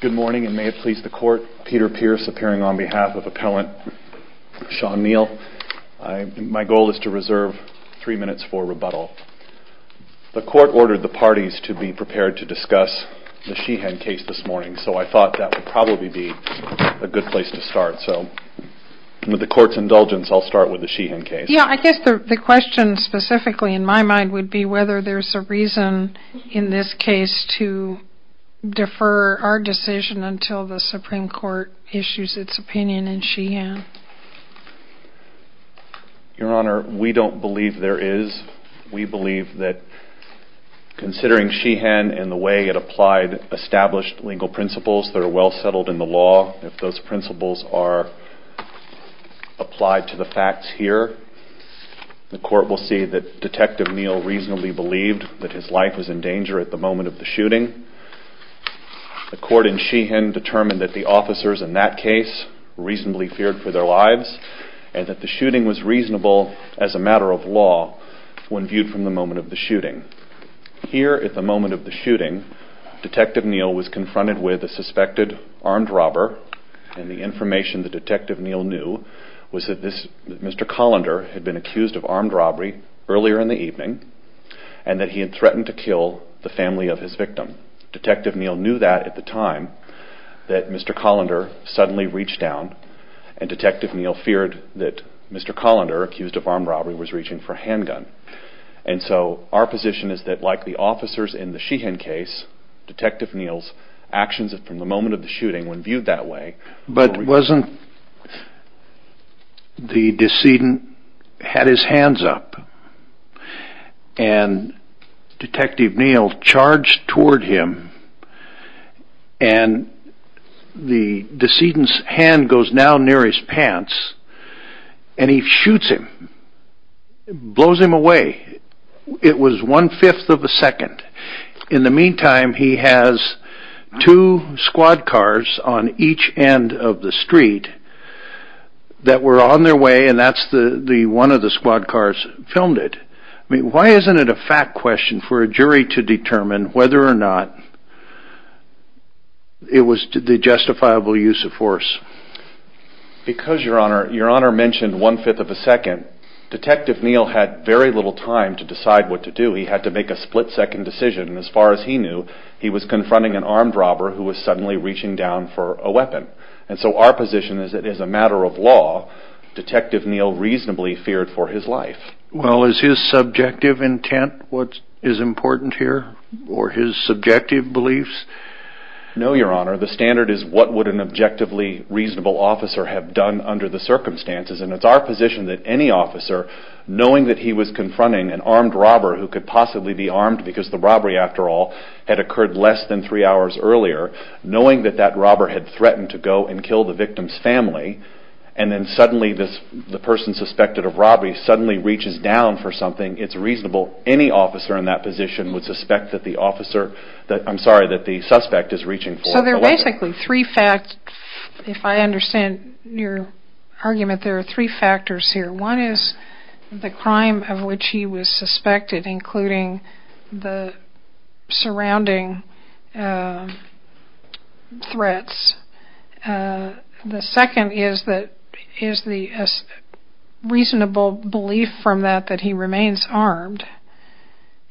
Good morning, and may it please the Court, Peter Pierce appearing on behalf of Appellant Shawn Neel. My goal is to reserve three minutes for rebuttal. The Court ordered the parties to be prepared to discuss the Sheehan case this morning, so I thought that would probably be a good place to start. So with the Court's indulgence, I'll start with the Sheehan case. Yeah, I guess the question specifically in my mind would be whether there's a reason in this case to defer our decision until the Supreme Court issues its opinion in Sheehan. Your Honor, we don't believe there is. We believe that considering Sheehan and the way it applied established legal principles that are well settled in the law, if those principles are applied to the facts here, the Court will see that Detective Neel reasonably believed that his life was in danger at the moment of the shooting. The Court in Sheehan determined that the officers in that case reasonably feared for their lives, and that the shooting was reasonable as a matter of law when viewed from the moment of the shooting. Here at the moment of the shooting, Detective Neel was confronted with a suspected armed robber, and the information that Detective Neel knew was that Mr. Collender had been accused of armed robbery earlier in the evening, and that he had threatened to kill the family of his victim. Detective Neel knew that at the time, that Mr. Collender suddenly reached down, and Detective Neel feared that Mr. Collender, accused of armed robbery, was reaching for a handgun. And so our position is that like the officers in the Sheehan case, Detective Neel's actions from the moment of the shooting, when viewed that way... But wasn't the decedent had his hands up, and Detective Neel charged toward him, and the decedent's hand goes down near his pants, and he shoots him, blows him away. It was one-fifth of a second. In the meantime, he has two squad cars on each end of the street that were on their way, and that's the one of the squad cars filmed it. Why isn't it a fact question for a jury to determine whether or not it was the justifiable use of force? Because Your Honor mentioned one-fifth of a second, Detective Neel had very little time to decide what to do. He had to make a split-second decision, and as far as he knew, he was confronting an armed robber who was suddenly reaching down for a weapon. And so our position is that as a matter of law, Detective Neel reasonably feared for his life. Well, is his subjective intent what is important here, or his subjective beliefs? No Your Honor, the standard is what would an objectively reasonable officer have done under the circumstances, and it's our position that any officer, knowing that he was confronting an armed robber who could possibly be armed because the robbery, after all, had occurred less than three hours earlier, knowing that that robber had threatened to go and kill the victim's family, and then suddenly the person suspected of robbery suddenly reaches down for something, it's reasonable any officer in that position would suspect that the suspect is reaching for a weapon. So there are basically three facts, if I understand your argument, there are three factors here. One is the crime of which he was suspected, including the surrounding threats. The second is the reasonable belief from that that he remains armed.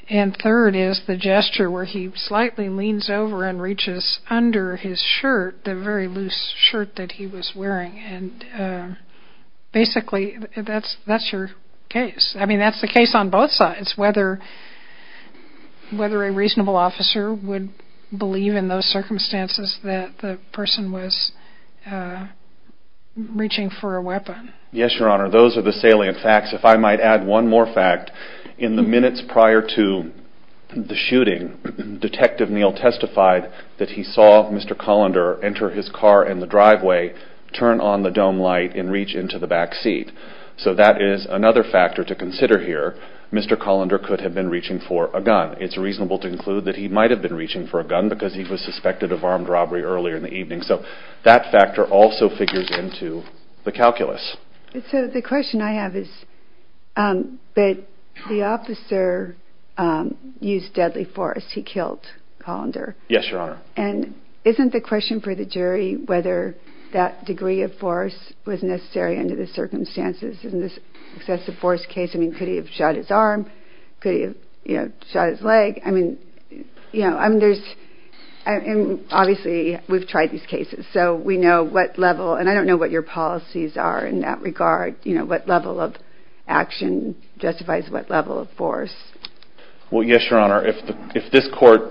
And third is the gesture where he slightly leans over and reaches under his shirt, the very loose shirt that he was wearing. And basically, that's your case. I mean, that's the case on both sides, whether a reasonable officer would believe in those circumstances that the person was reaching for a weapon. Yes, Your Honor, those are the salient facts. If I might add one more fact, in the minutes prior to the shooting, Detective Neal testified that he saw Mr. Colander enter his car in the driveway, turn on the dome light, and reach into the back seat. So that is another factor to consider here. Mr. Colander could have been reaching for a gun. It's reasonable to conclude that he might have been reaching for a gun because he was suspected of armed robbery earlier in the evening. So that factor also figures into the calculus. So the question I have is that the officer used deadly force, he killed Colander. Yes, Your Honor. And isn't the question for the jury whether that degree of force was necessary under the circumstances in this excessive force case? I mean, could he have shot his arm? Could he have shot his leg? I mean, obviously, we've tried these cases. So we know what level, and I don't know what your policies are in that regard, what level of action justifies what level of force. Well, yes, Your Honor. If this court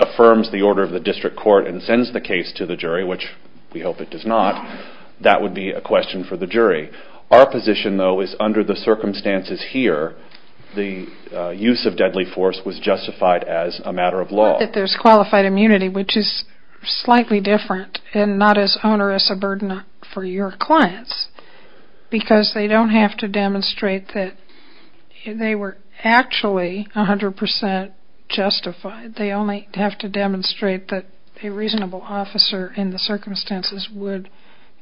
affirms the order of the district court and sends the case to the jury, which we hope it does not, that would be a question for the jury. Our position, though, is under the circumstances here, the use of deadly force was justified as a matter of law. Not that there's qualified immunity, which is slightly different and not as onerous a hundred percent justified. They only have to demonstrate that a reasonable officer in the circumstances would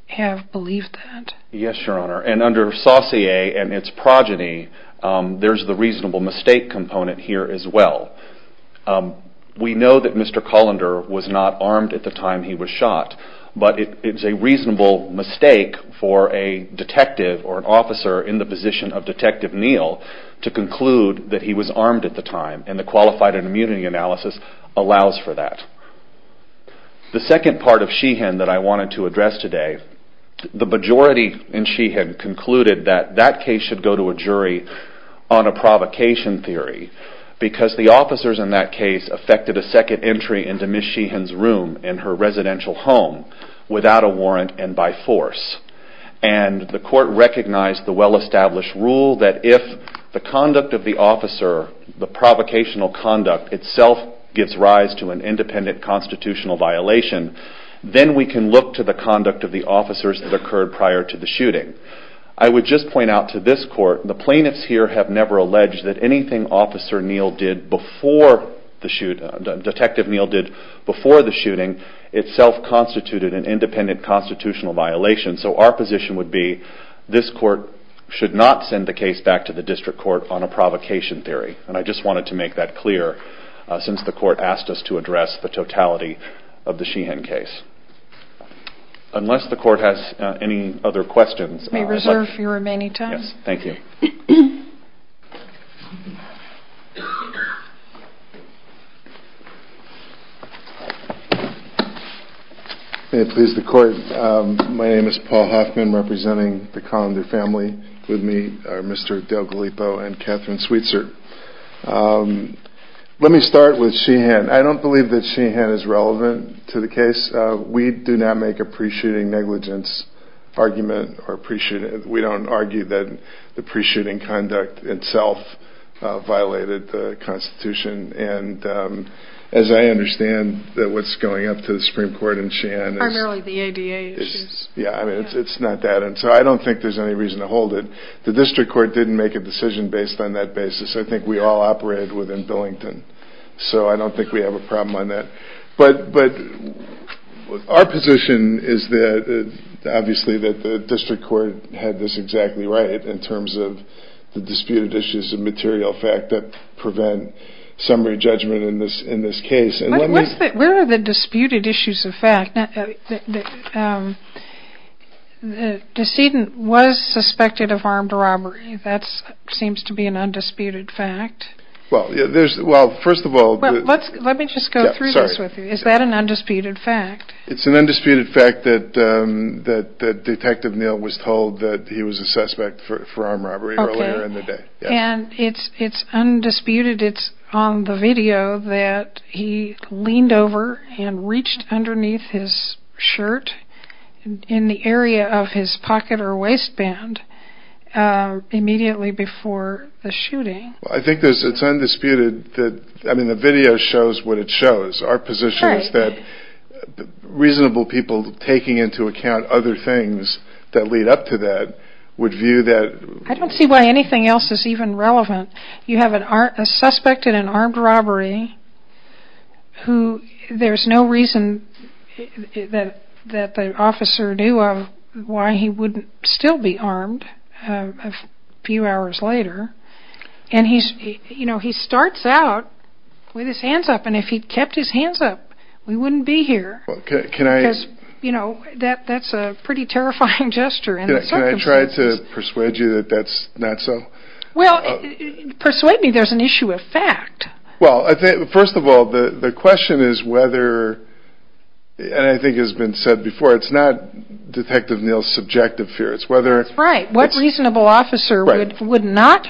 have believed that. Yes, Your Honor. And under saucier and its progeny, there's the reasonable mistake component here as well. We know that Mr. Colander was not armed at the time he was shot, but it's a reasonable mistake for a detective or an officer in the position of Detective Neal to conclude that he was armed at the time, and the qualified immunity analysis allows for that. The second part of Sheehan that I wanted to address today, the majority in Sheehan concluded that that case should go to a jury on a provocation theory because the officers in that case affected a second entry into Ms. Sheehan's room in her residential home without a warrant and by force. And the court recognized the well-established rule that if the conduct of the officer, the provocational conduct itself gives rise to an independent constitutional violation, then we can look to the conduct of the officers that occurred prior to the shooting. I would just point out to this court, the plaintiffs here have never alleged that anything Officer Neal did before the shoot, Detective Neal did before the shooting, itself constituted an independent constitutional violation. So our position would be, this court should not send the case back to the district court on a provocation theory. And I just wanted to make that clear since the court asked us to address the totality of the Sheehan case. Unless the court has any other questions... We reserve your remaining time. Thank you. May it please the court, my name is Paul Hoffman representing the Colander family. With me are Mr. Dale Gallipo and Catherine Sweetser. Let me start with Sheehan. I don't believe that Sheehan is relevant to the case. We do not make a pre-shooting negligence argument or pre-shooting. We don't argue that the pre-shooting conduct itself violated the constitution. As I understand, what's going up to the Supreme Court in Sheehan is primarily the ADA issues. It's not that. So I don't think there's any reason to hold it. The district court didn't make a decision based on that basis. I think we all operate within Billington. So I don't know. Our position is that the district court had this exactly right in terms of the disputed issues of material fact that prevent summary judgment in this case. Where are the disputed issues of fact? The decedent was suspected of armed robbery. That seems to be an undisputed fact. First of all... Let me just go through this with you. Is that an undisputed fact? It's an undisputed fact that Detective Neal was told that he was a suspect for armed robbery earlier in the day. It's undisputed. It's on the video that he leaned over and reached underneath his shirt in the area of his pocket or waistband immediately before the shooting. I think it's undisputed. The video shows what it shows. Our position is that reasonable people taking into account other things that lead up to that would view that... I don't see why anything else is even relevant. You have a suspect in an armed robbery. There's no reason that the officer knew of why he wouldn't still be armed a few hours later. He starts out with his hands up. If he kept his hands up, we wouldn't be here. That's a pretty terrifying gesture. Can I try to persuade you that that's not so? Persuade me there's an issue of fact. First of all, the question is whether, and I think it's been said before, it's not Detective Neal's subjective fear. That's right. What reasonable officer would not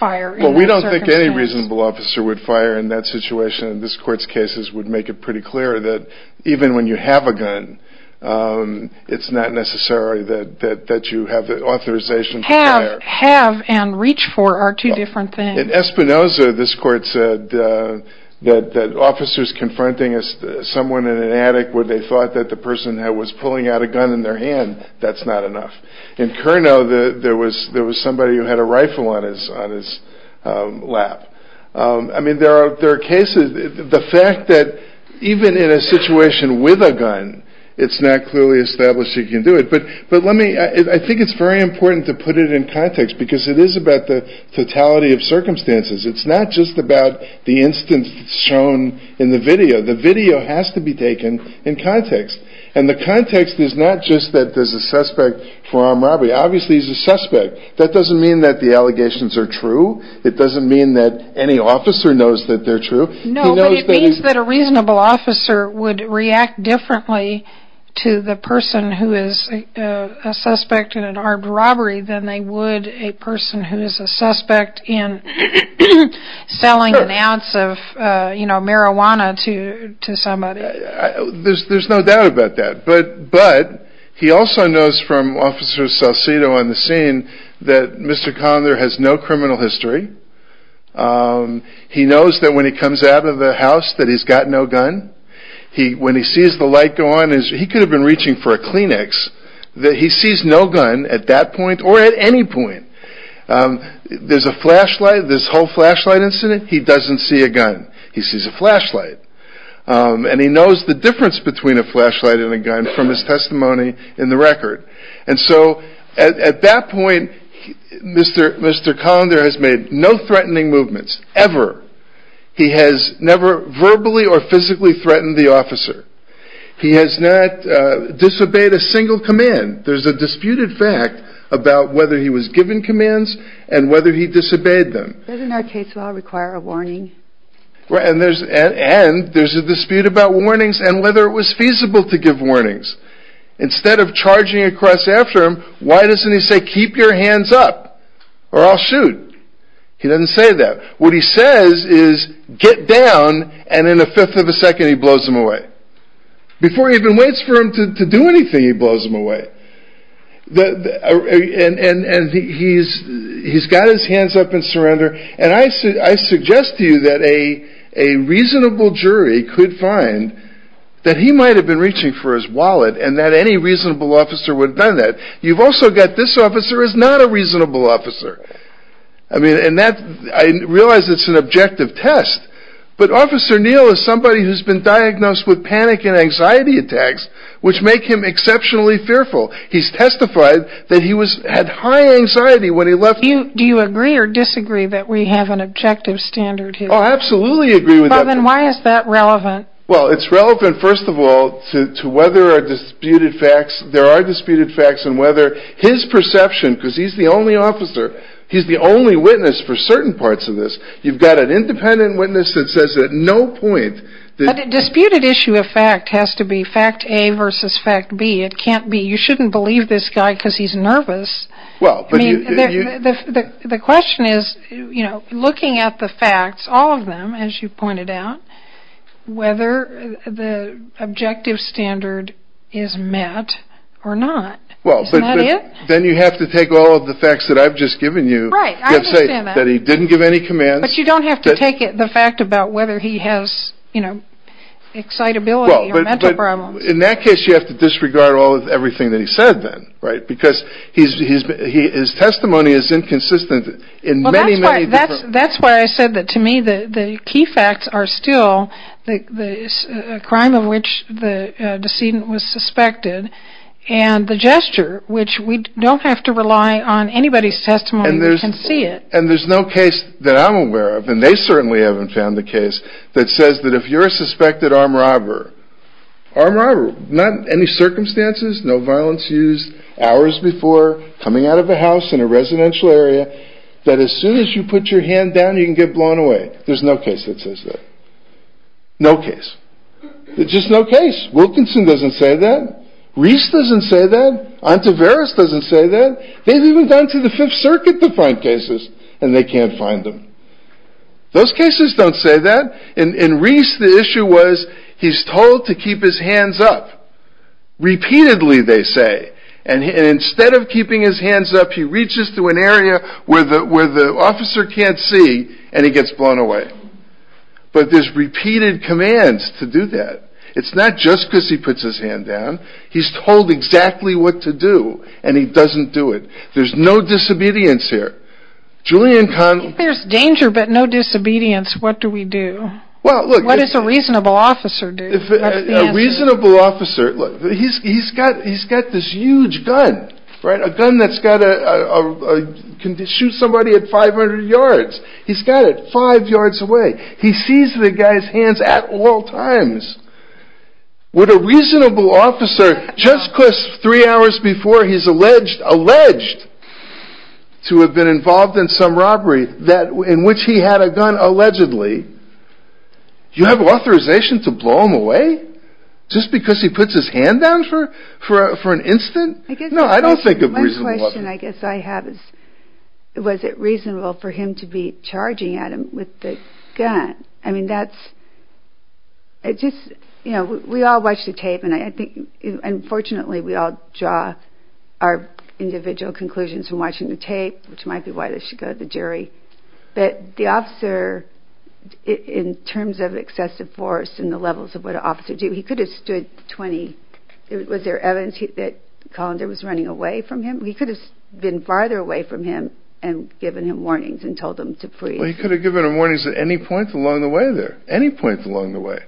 fire in that circumstance? We don't think any reasonable officer would fire in that situation. This court's cases would make it pretty clear that even when you have a gun, it's not necessary that you have the authorization to fire. Have and reach for are two different things. In Espinoza, this court said that officers confronting someone in an attic where they were shot, that's not enough. In Curnow, there was somebody who had a rifle on his lap. There are cases, the fact that even in a situation with a gun, it's not clearly established you can do it. I think it's very important to put it in context because it is about the totality of circumstances. It's not just about the instance shown in the video. The video has to be taken in context. The context is not just that there's a suspect for armed robbery. Obviously, he's a suspect. That doesn't mean that the allegations are true. It doesn't mean that any officer knows that they're true. No, but it means that a reasonable officer would react differently to the person who is a suspect in an armed robbery than they would a person who is a suspect in selling an ounce of marijuana to somebody. There's no doubt about that, but he also knows from Officer Salcido on the scene that Mr. Conner has no criminal history. He knows that when he comes out of the house that he's got no gun. When he sees the light go on, he could have been reaching for a Kleenex. He sees no gun at that point or at any point. There's a flashlight. This whole flashlight incident, he doesn't see a gun. He sees a flashlight. He knows the difference between a flashlight and a gun from his testimony in the record. At that point, Mr. Conner has made no threatening movements ever. He has never verbally or physically threatened the officer. He has not disobeyed a single command. There's a disputed fact about whether he was given commands and whether he disobeyed them. Doesn't our case law require a warning? And there's a dispute about warnings and whether it was feasible to give warnings. Instead of charging across after him, why doesn't he say, keep your hands up or I'll shoot? He doesn't say that. What he says is, get down, and in a fifth of a second he blows him away. Before he even waits for him to do anything, he blows him away. He's got his hands up and he's ready to surrender. I suggest to you that a reasonable jury could find that he might have been reaching for his wallet and that any reasonable officer would have done that. You've also got this officer as not a reasonable officer. I realize it's an objective test, but Officer Neal is somebody who's been diagnosed with panic and anxiety attacks which make him exceptionally fearful. He's testified that he had high anxiety when he was diagnosed. Do you agree that we have an objective standard here? Oh, I absolutely agree with that. Well, then why is that relevant? Well, it's relevant, first of all, to whether there are disputed facts and whether his perception, because he's the only officer, he's the only witness for certain parts of this. You've got an independent witness that says at no point that... But a disputed issue of fact has to be fact A versus fact B. It can't be, you shouldn't believe this guy because he's nervous. The question is, looking at the facts, all of them, as you pointed out, whether the objective standard is met or not. Isn't that it? Then you have to take all of the facts that I've just given you. Right, I understand that. You have to say that he didn't give any commands. But you don't have to take the fact about whether he has excitability or mental problems. In that case, you have to disregard everything that he said then, right? Because his testimony is inconsistent in many, many different... That's why I said that to me the key facts are still the crime of which the decedent was suspected and the gesture, which we don't have to rely on anybody's testimony. We can see it. And there's no case that I'm aware of, and they certainly haven't found a case, that says that if you're a suspected armed robber, armed robber, not any circumstances, no violence used, hours before, coming out of a house in a residential area, that as soon as you put your hand down, you can get blown away. There's no case that says that. No case. There's just no case. Wilkinson doesn't say that. Reese doesn't say that. Ontiveros doesn't say that. They've even gone to the Fifth Circuit to find cases and they can't find them. Those cases don't say that. In Reese the issue was he's told to keep his hands up. Repeatedly they say. And instead of keeping his hands up, he reaches to an area where the officer can't see and he gets blown away. But there's repeated commands to do that. It's not just because he puts his hand down. He's told exactly what to do and he doesn't do it. There's no disobedience here. If there's danger but no disobedience, what do we do? What does a reasonable officer do? A reasonable officer, he's got this huge gun, a gun that can shoot somebody at 500 yards. He's got it five yards away. He sees the guy's hands at all times. Would a reasonable officer just three hours before he's alleged to have been involved in some robbery in which he had a gun allegedly, do you have authorization to blow him away? Just because he puts his hand down for an instant? No, I don't think of a reasonable officer. My question I guess I have is was it reasonable for him to be charging at him with the gun? I mean, that's just, you know, we all watch the tape and I think unfortunately we all draw our individual conclusions from watching the tape, which might be why this should go to the jury. But the officer in terms of excessive force and the levels of what an officer do, he could have stood 20, was there evidence that Collender was running away from him? He could have been farther away from him and given him warnings and told him to freeze. He could have given him warnings at any point along the way there, any point along the way.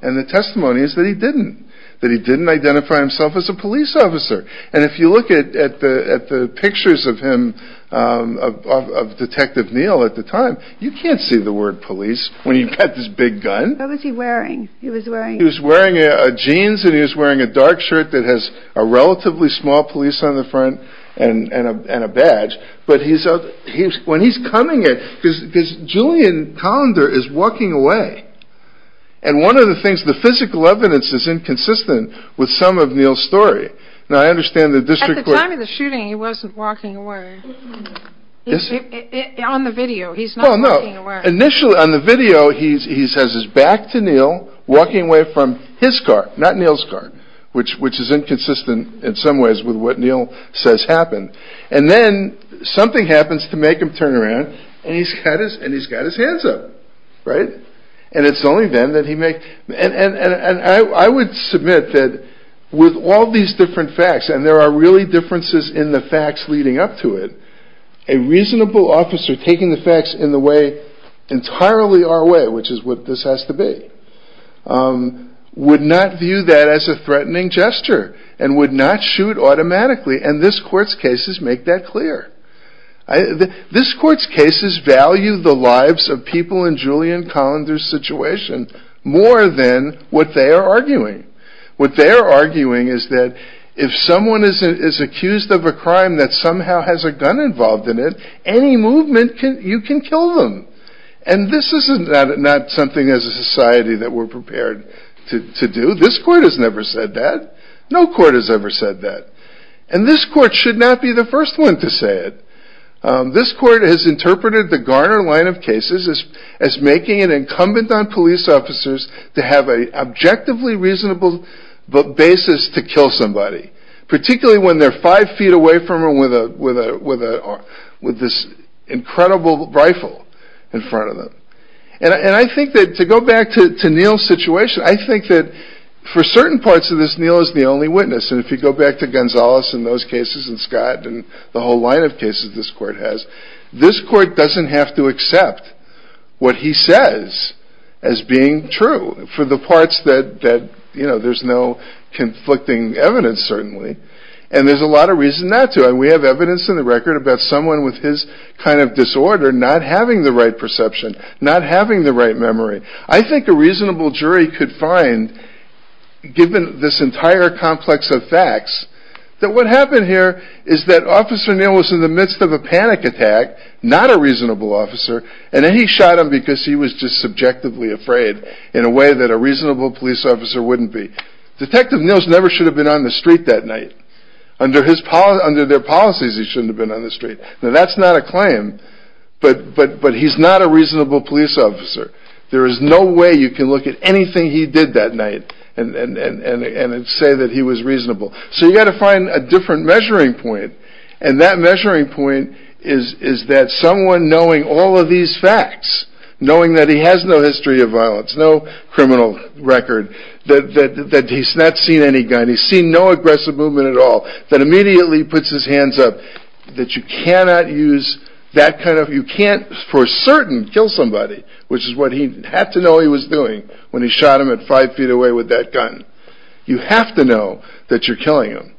And the testimony is that he didn't, that he didn't identify himself as a police officer. And if you look at the pictures of him, of Detective Neal at the time, you can't see the word police when you've got this big gun. What was he wearing? He was wearing a jeans and he was wearing a dark shirt that has a relatively small police on the front and a badge. But he's, when he's coming at, because Julian Collender is walking away. And one of the things, the physical evidence is inconsistent with some of Neal's story. Now I understand the district court... At the time of the shooting he wasn't walking away. On the video he's not walking away. Well no, initially on the video he has his back to Neal, walking away from his car, not Neal's car, which is inconsistent in some ways with what Neal says happened. And then something happens to make him turn around and he's got his hands up, right? And it's only then that he makes... And I would submit that with all these different facts, and there are really differences in the facts leading up to it, a reasonable officer taking the facts in the way, entirely our way, which is what this has to be, would not view that as a threatening gesture and would not shoot automatically. And this court's cases make that clear. This court's cases value the lives of people in Julian Collender's situation more than what they are arguing. What they are arguing is that if someone is accused of a crime that somehow has a gun involved in it, any movement you can kill them. And this is not something as a society that we're used to. And this court should not be the first one to say it. This court has interpreted the Garner line of cases as making it incumbent on police officers to have an objectively reasonable basis to kill somebody, particularly when they're five feet away from him with this incredible rifle in front of them. And I think that to go back to Neal's situation, I think that for certain parts of this Neal is the only witness. And if you go back to Gonzales in those cases and Scott and the whole line of cases this court has, this court doesn't have to accept what he says as being true for the parts that, you know, there's no conflicting evidence certainly. And there's a lot of reason not to. And we have evidence in the record about someone with his kind of disorder not having the right perception, not having the right memory. I think a reasonable jury could find, given this entire complex of facts, that what happened here is that Officer Neal was in the midst of a panic attack, not a reasonable officer, and then he shot him because he was just subjectively afraid in a way that a reasonable police officer wouldn't be. Detective Neal never should have been on the street that night. Under their policies he shouldn't have been on the street. Now that's not a claim, but he's not a reasonable police officer. There is no way you can look at anything he did that night and say that he was reasonable. So you've got to find a different measuring point. And that measuring point is that someone knowing all of these facts, knowing that he has no history of violence, no criminal record, that he's not seen any gun, he's seen no aggressive movement at all, that immediately puts his hands up, that you cannot use that kind of, you can't for certain kill somebody, which is what he had to know he was doing when he shot him at five feet away with that gun. You have to know that you're killing him,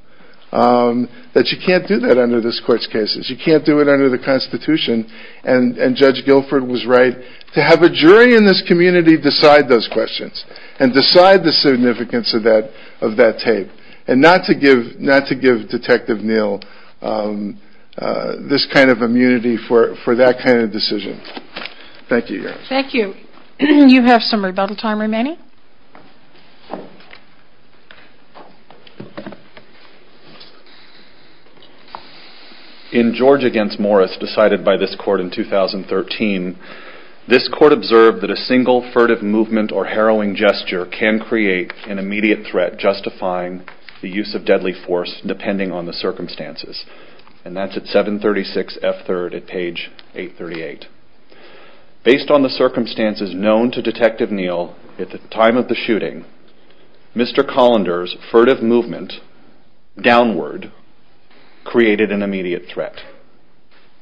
that you can't do that under this court's cases, you can't do it under the Constitution, and Judge Guilford was right. To have a jury in this community decide those questions, and decide the significance of that tape, and not to give Detective Neal this kind of immunity for that kind of decision. Thank you, Your Honor. Thank you. You have some rebuttal time remaining. In George v. Morris, decided by this court in 2013, this court observed that a single furtive movement or harrowing gesture can create an immediate threat justifying the use of deadly force depending on the circumstances. And that's at 736 F. 3rd at page 838. Based on the circumstances known to Detective Neal at the time of the shooting, Mr. Colander's furtive movement downward created an immediate threat.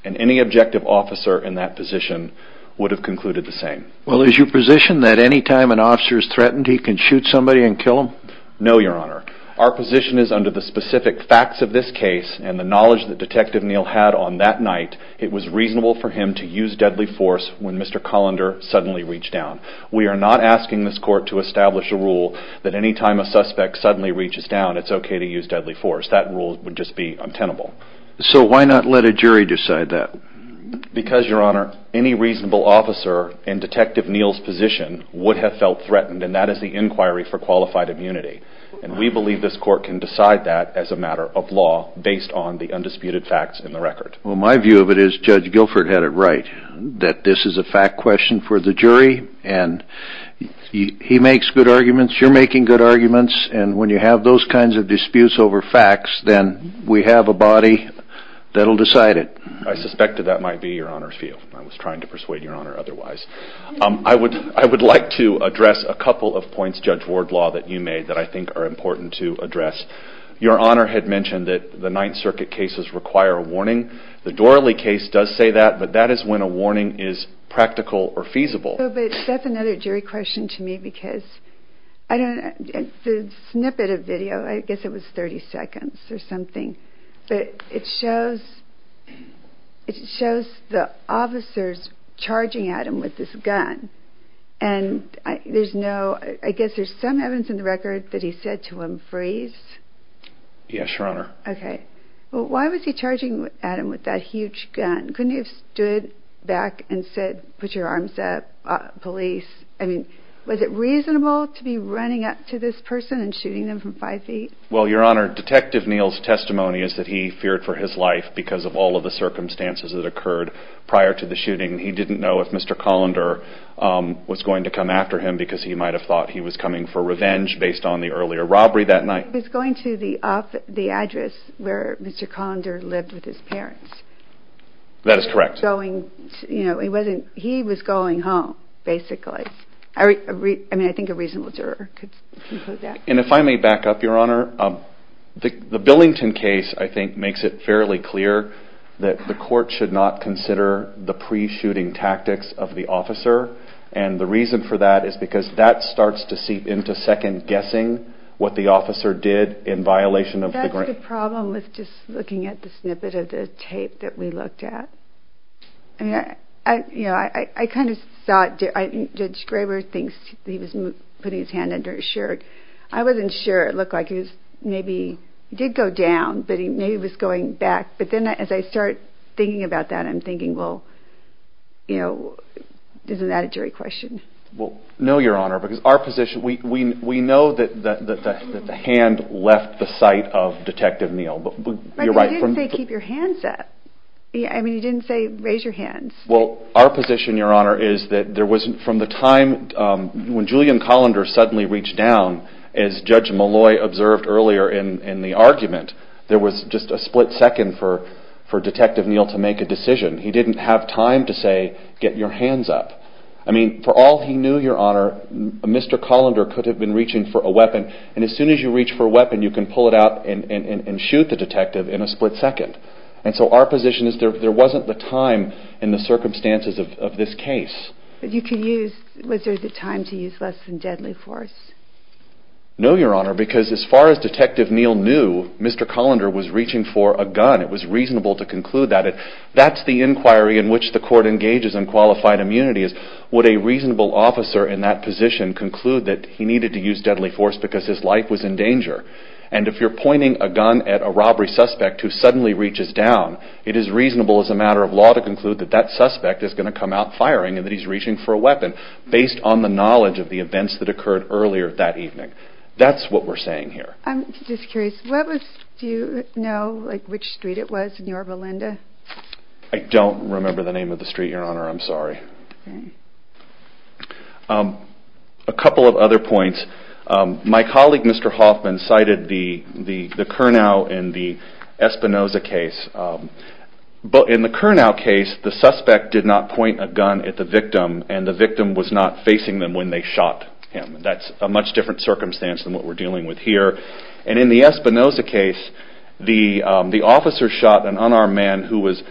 And any objective officer in that position would have concluded the same. Well is your position that any time an officer is threatened he can shoot somebody and kill them? No, Your Honor. Our position is under the specific facts of this case and the knowledge that Detective Neal had on that night, it was reasonable for him to use deadly force when Mr. Colander suddenly reached down. We are not asking this court to establish a rule that any time a suspect suddenly reaches down it's okay to use deadly force. That rule would just be untenable. So why not let a jury decide that? Because Your Honor, any reasonable officer in Detective Neal's position would have felt threatened and that is the inquiry for qualified immunity. And we believe this court can decide that as a matter of law based on the undisputed facts in the record. Well my view of it is Judge Guilford had it right that this is a fact question for the jury and he makes good arguments, you're making good arguments and when you have those kinds of disputes over facts then we have a body that will decide it. I suspected that might be Your Honor's view. I was trying to persuade Your Honor otherwise. I would like to address a couple of points, Judge Wardlaw, that you made that I think are important to address. Your Honor had mentioned that the Ninth Circuit cases require a warning. The Doralee case does say that but that is when a warning is practical or feasible. But that's another jury question to me because the snippet of video, I guess it was 30 seconds or something, but it shows the officers charging at him with this gun and I guess there's some evidence in the record that he said to him, freeze. Yes, Your Honor. Okay. Well why was he charging at him with that huge gun? Couldn't he have stood back and said put your arms up, police? I mean was it reasonable to be running up to this person and shooting them from five feet? Well Your Honor, Detective Neal's testimony is that he feared for his life because of all of the circumstances that occurred prior to the shooting. He didn't know if Mr. Colander was going to come after him because he might have thought he was coming for revenge based on the earlier robbery that night. He was going to the address where Mr. Colander lived with his parents. That is correct. He was going home basically. I mean I think a reasonable juror could conclude that. And if I may back up, Your Honor, the Billington case I think makes it fairly clear that the the reason for that is because that starts to seep into second-guessing what the officer did in violation of the grant. That's the problem with just looking at the snippet of the tape that we looked at. I mean I kind of saw it. Judge Graber thinks he was putting his hand under his shirt. I wasn't sure. It looked like he was maybe, he did go down, but maybe he was going back. But then as I start thinking about that I'm thinking, well, you know, isn't that a jury question? No, Your Honor, because our position, we know that the hand left the sight of Detective Neal. But you didn't say keep your hands up. I mean you didn't say raise your hands. Well, our position, Your Honor, is that there wasn't, from the time when Julian Colander suddenly reached down, as Judge Malloy observed earlier in the argument, there was just a for Detective Neal to make a decision. He didn't have time to say get your hands up. I mean, for all he knew, Your Honor, Mr. Colander could have been reaching for a weapon, and as soon as you reach for a weapon you can pull it out and shoot the detective in a split second. And so our position is there wasn't the time in the circumstances of this case. You could use, was there the time to use less than deadly force? No, Your Honor, because as far as Detective Neal knew, Mr. Colander was reaching for a weapon. It's reasonable to conclude that. That's the inquiry in which the court engages in qualified immunity, is would a reasonable officer in that position conclude that he needed to use deadly force because his life was in danger? And if you're pointing a gun at a robbery suspect who suddenly reaches down, it is reasonable as a matter of law to conclude that that suspect is going to come out firing and that he's reaching for a weapon based on the knowledge of the events that occurred earlier that evening. That's what we're saying here. I'm just curious, do you know which street it was in Yorba Linda? I don't remember the name of the street, Your Honor, I'm sorry. A couple of other points. My colleague, Mr. Hoffman, cited the Kurnow in the Espinoza case. In the Kurnow case, the suspect did not point a gun at the victim and the victim was not facing them when they shot him. That's a much different circumstance than what we're dealing with here. And in the Espinoza case, the officer shot an unarmed man who was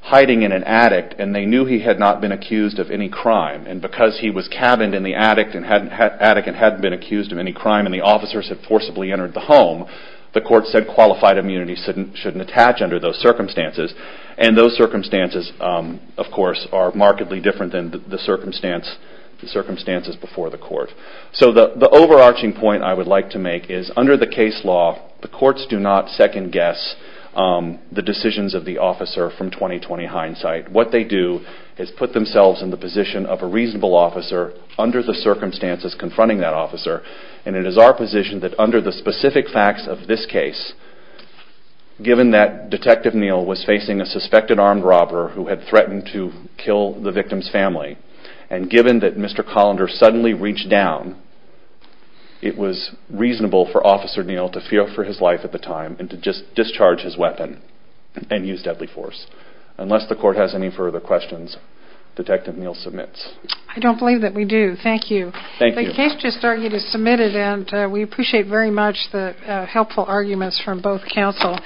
hiding in an attic and they knew he had not been accused of any crime. And because he was cabined in the attic and hadn't been accused of any crime and the officers had forcibly entered the home, the court said qualified immunity shouldn't attach under those circumstances. And those circumstances, of course, are markedly different than the circumstances before the So the overarching point I would like to make is under the case law, the courts do not second guess the decisions of the officer from 20-20 hindsight. What they do is put themselves in the position of a reasonable officer under the circumstances confronting that officer. And it is our position that under the specific facts of this case, given that Detective Neal was facing a suspected armed robber who had threatened to kill the victim's family, and it was reasonable for Officer Neal to feel for his life at the time and to just discharge his weapon and use deadly force. Unless the court has any further questions, Detective Neal submits. I don't believe that we do. Thank you. Thank you. The case just started and is submitted and we appreciate very much the helpful arguments from both counsel.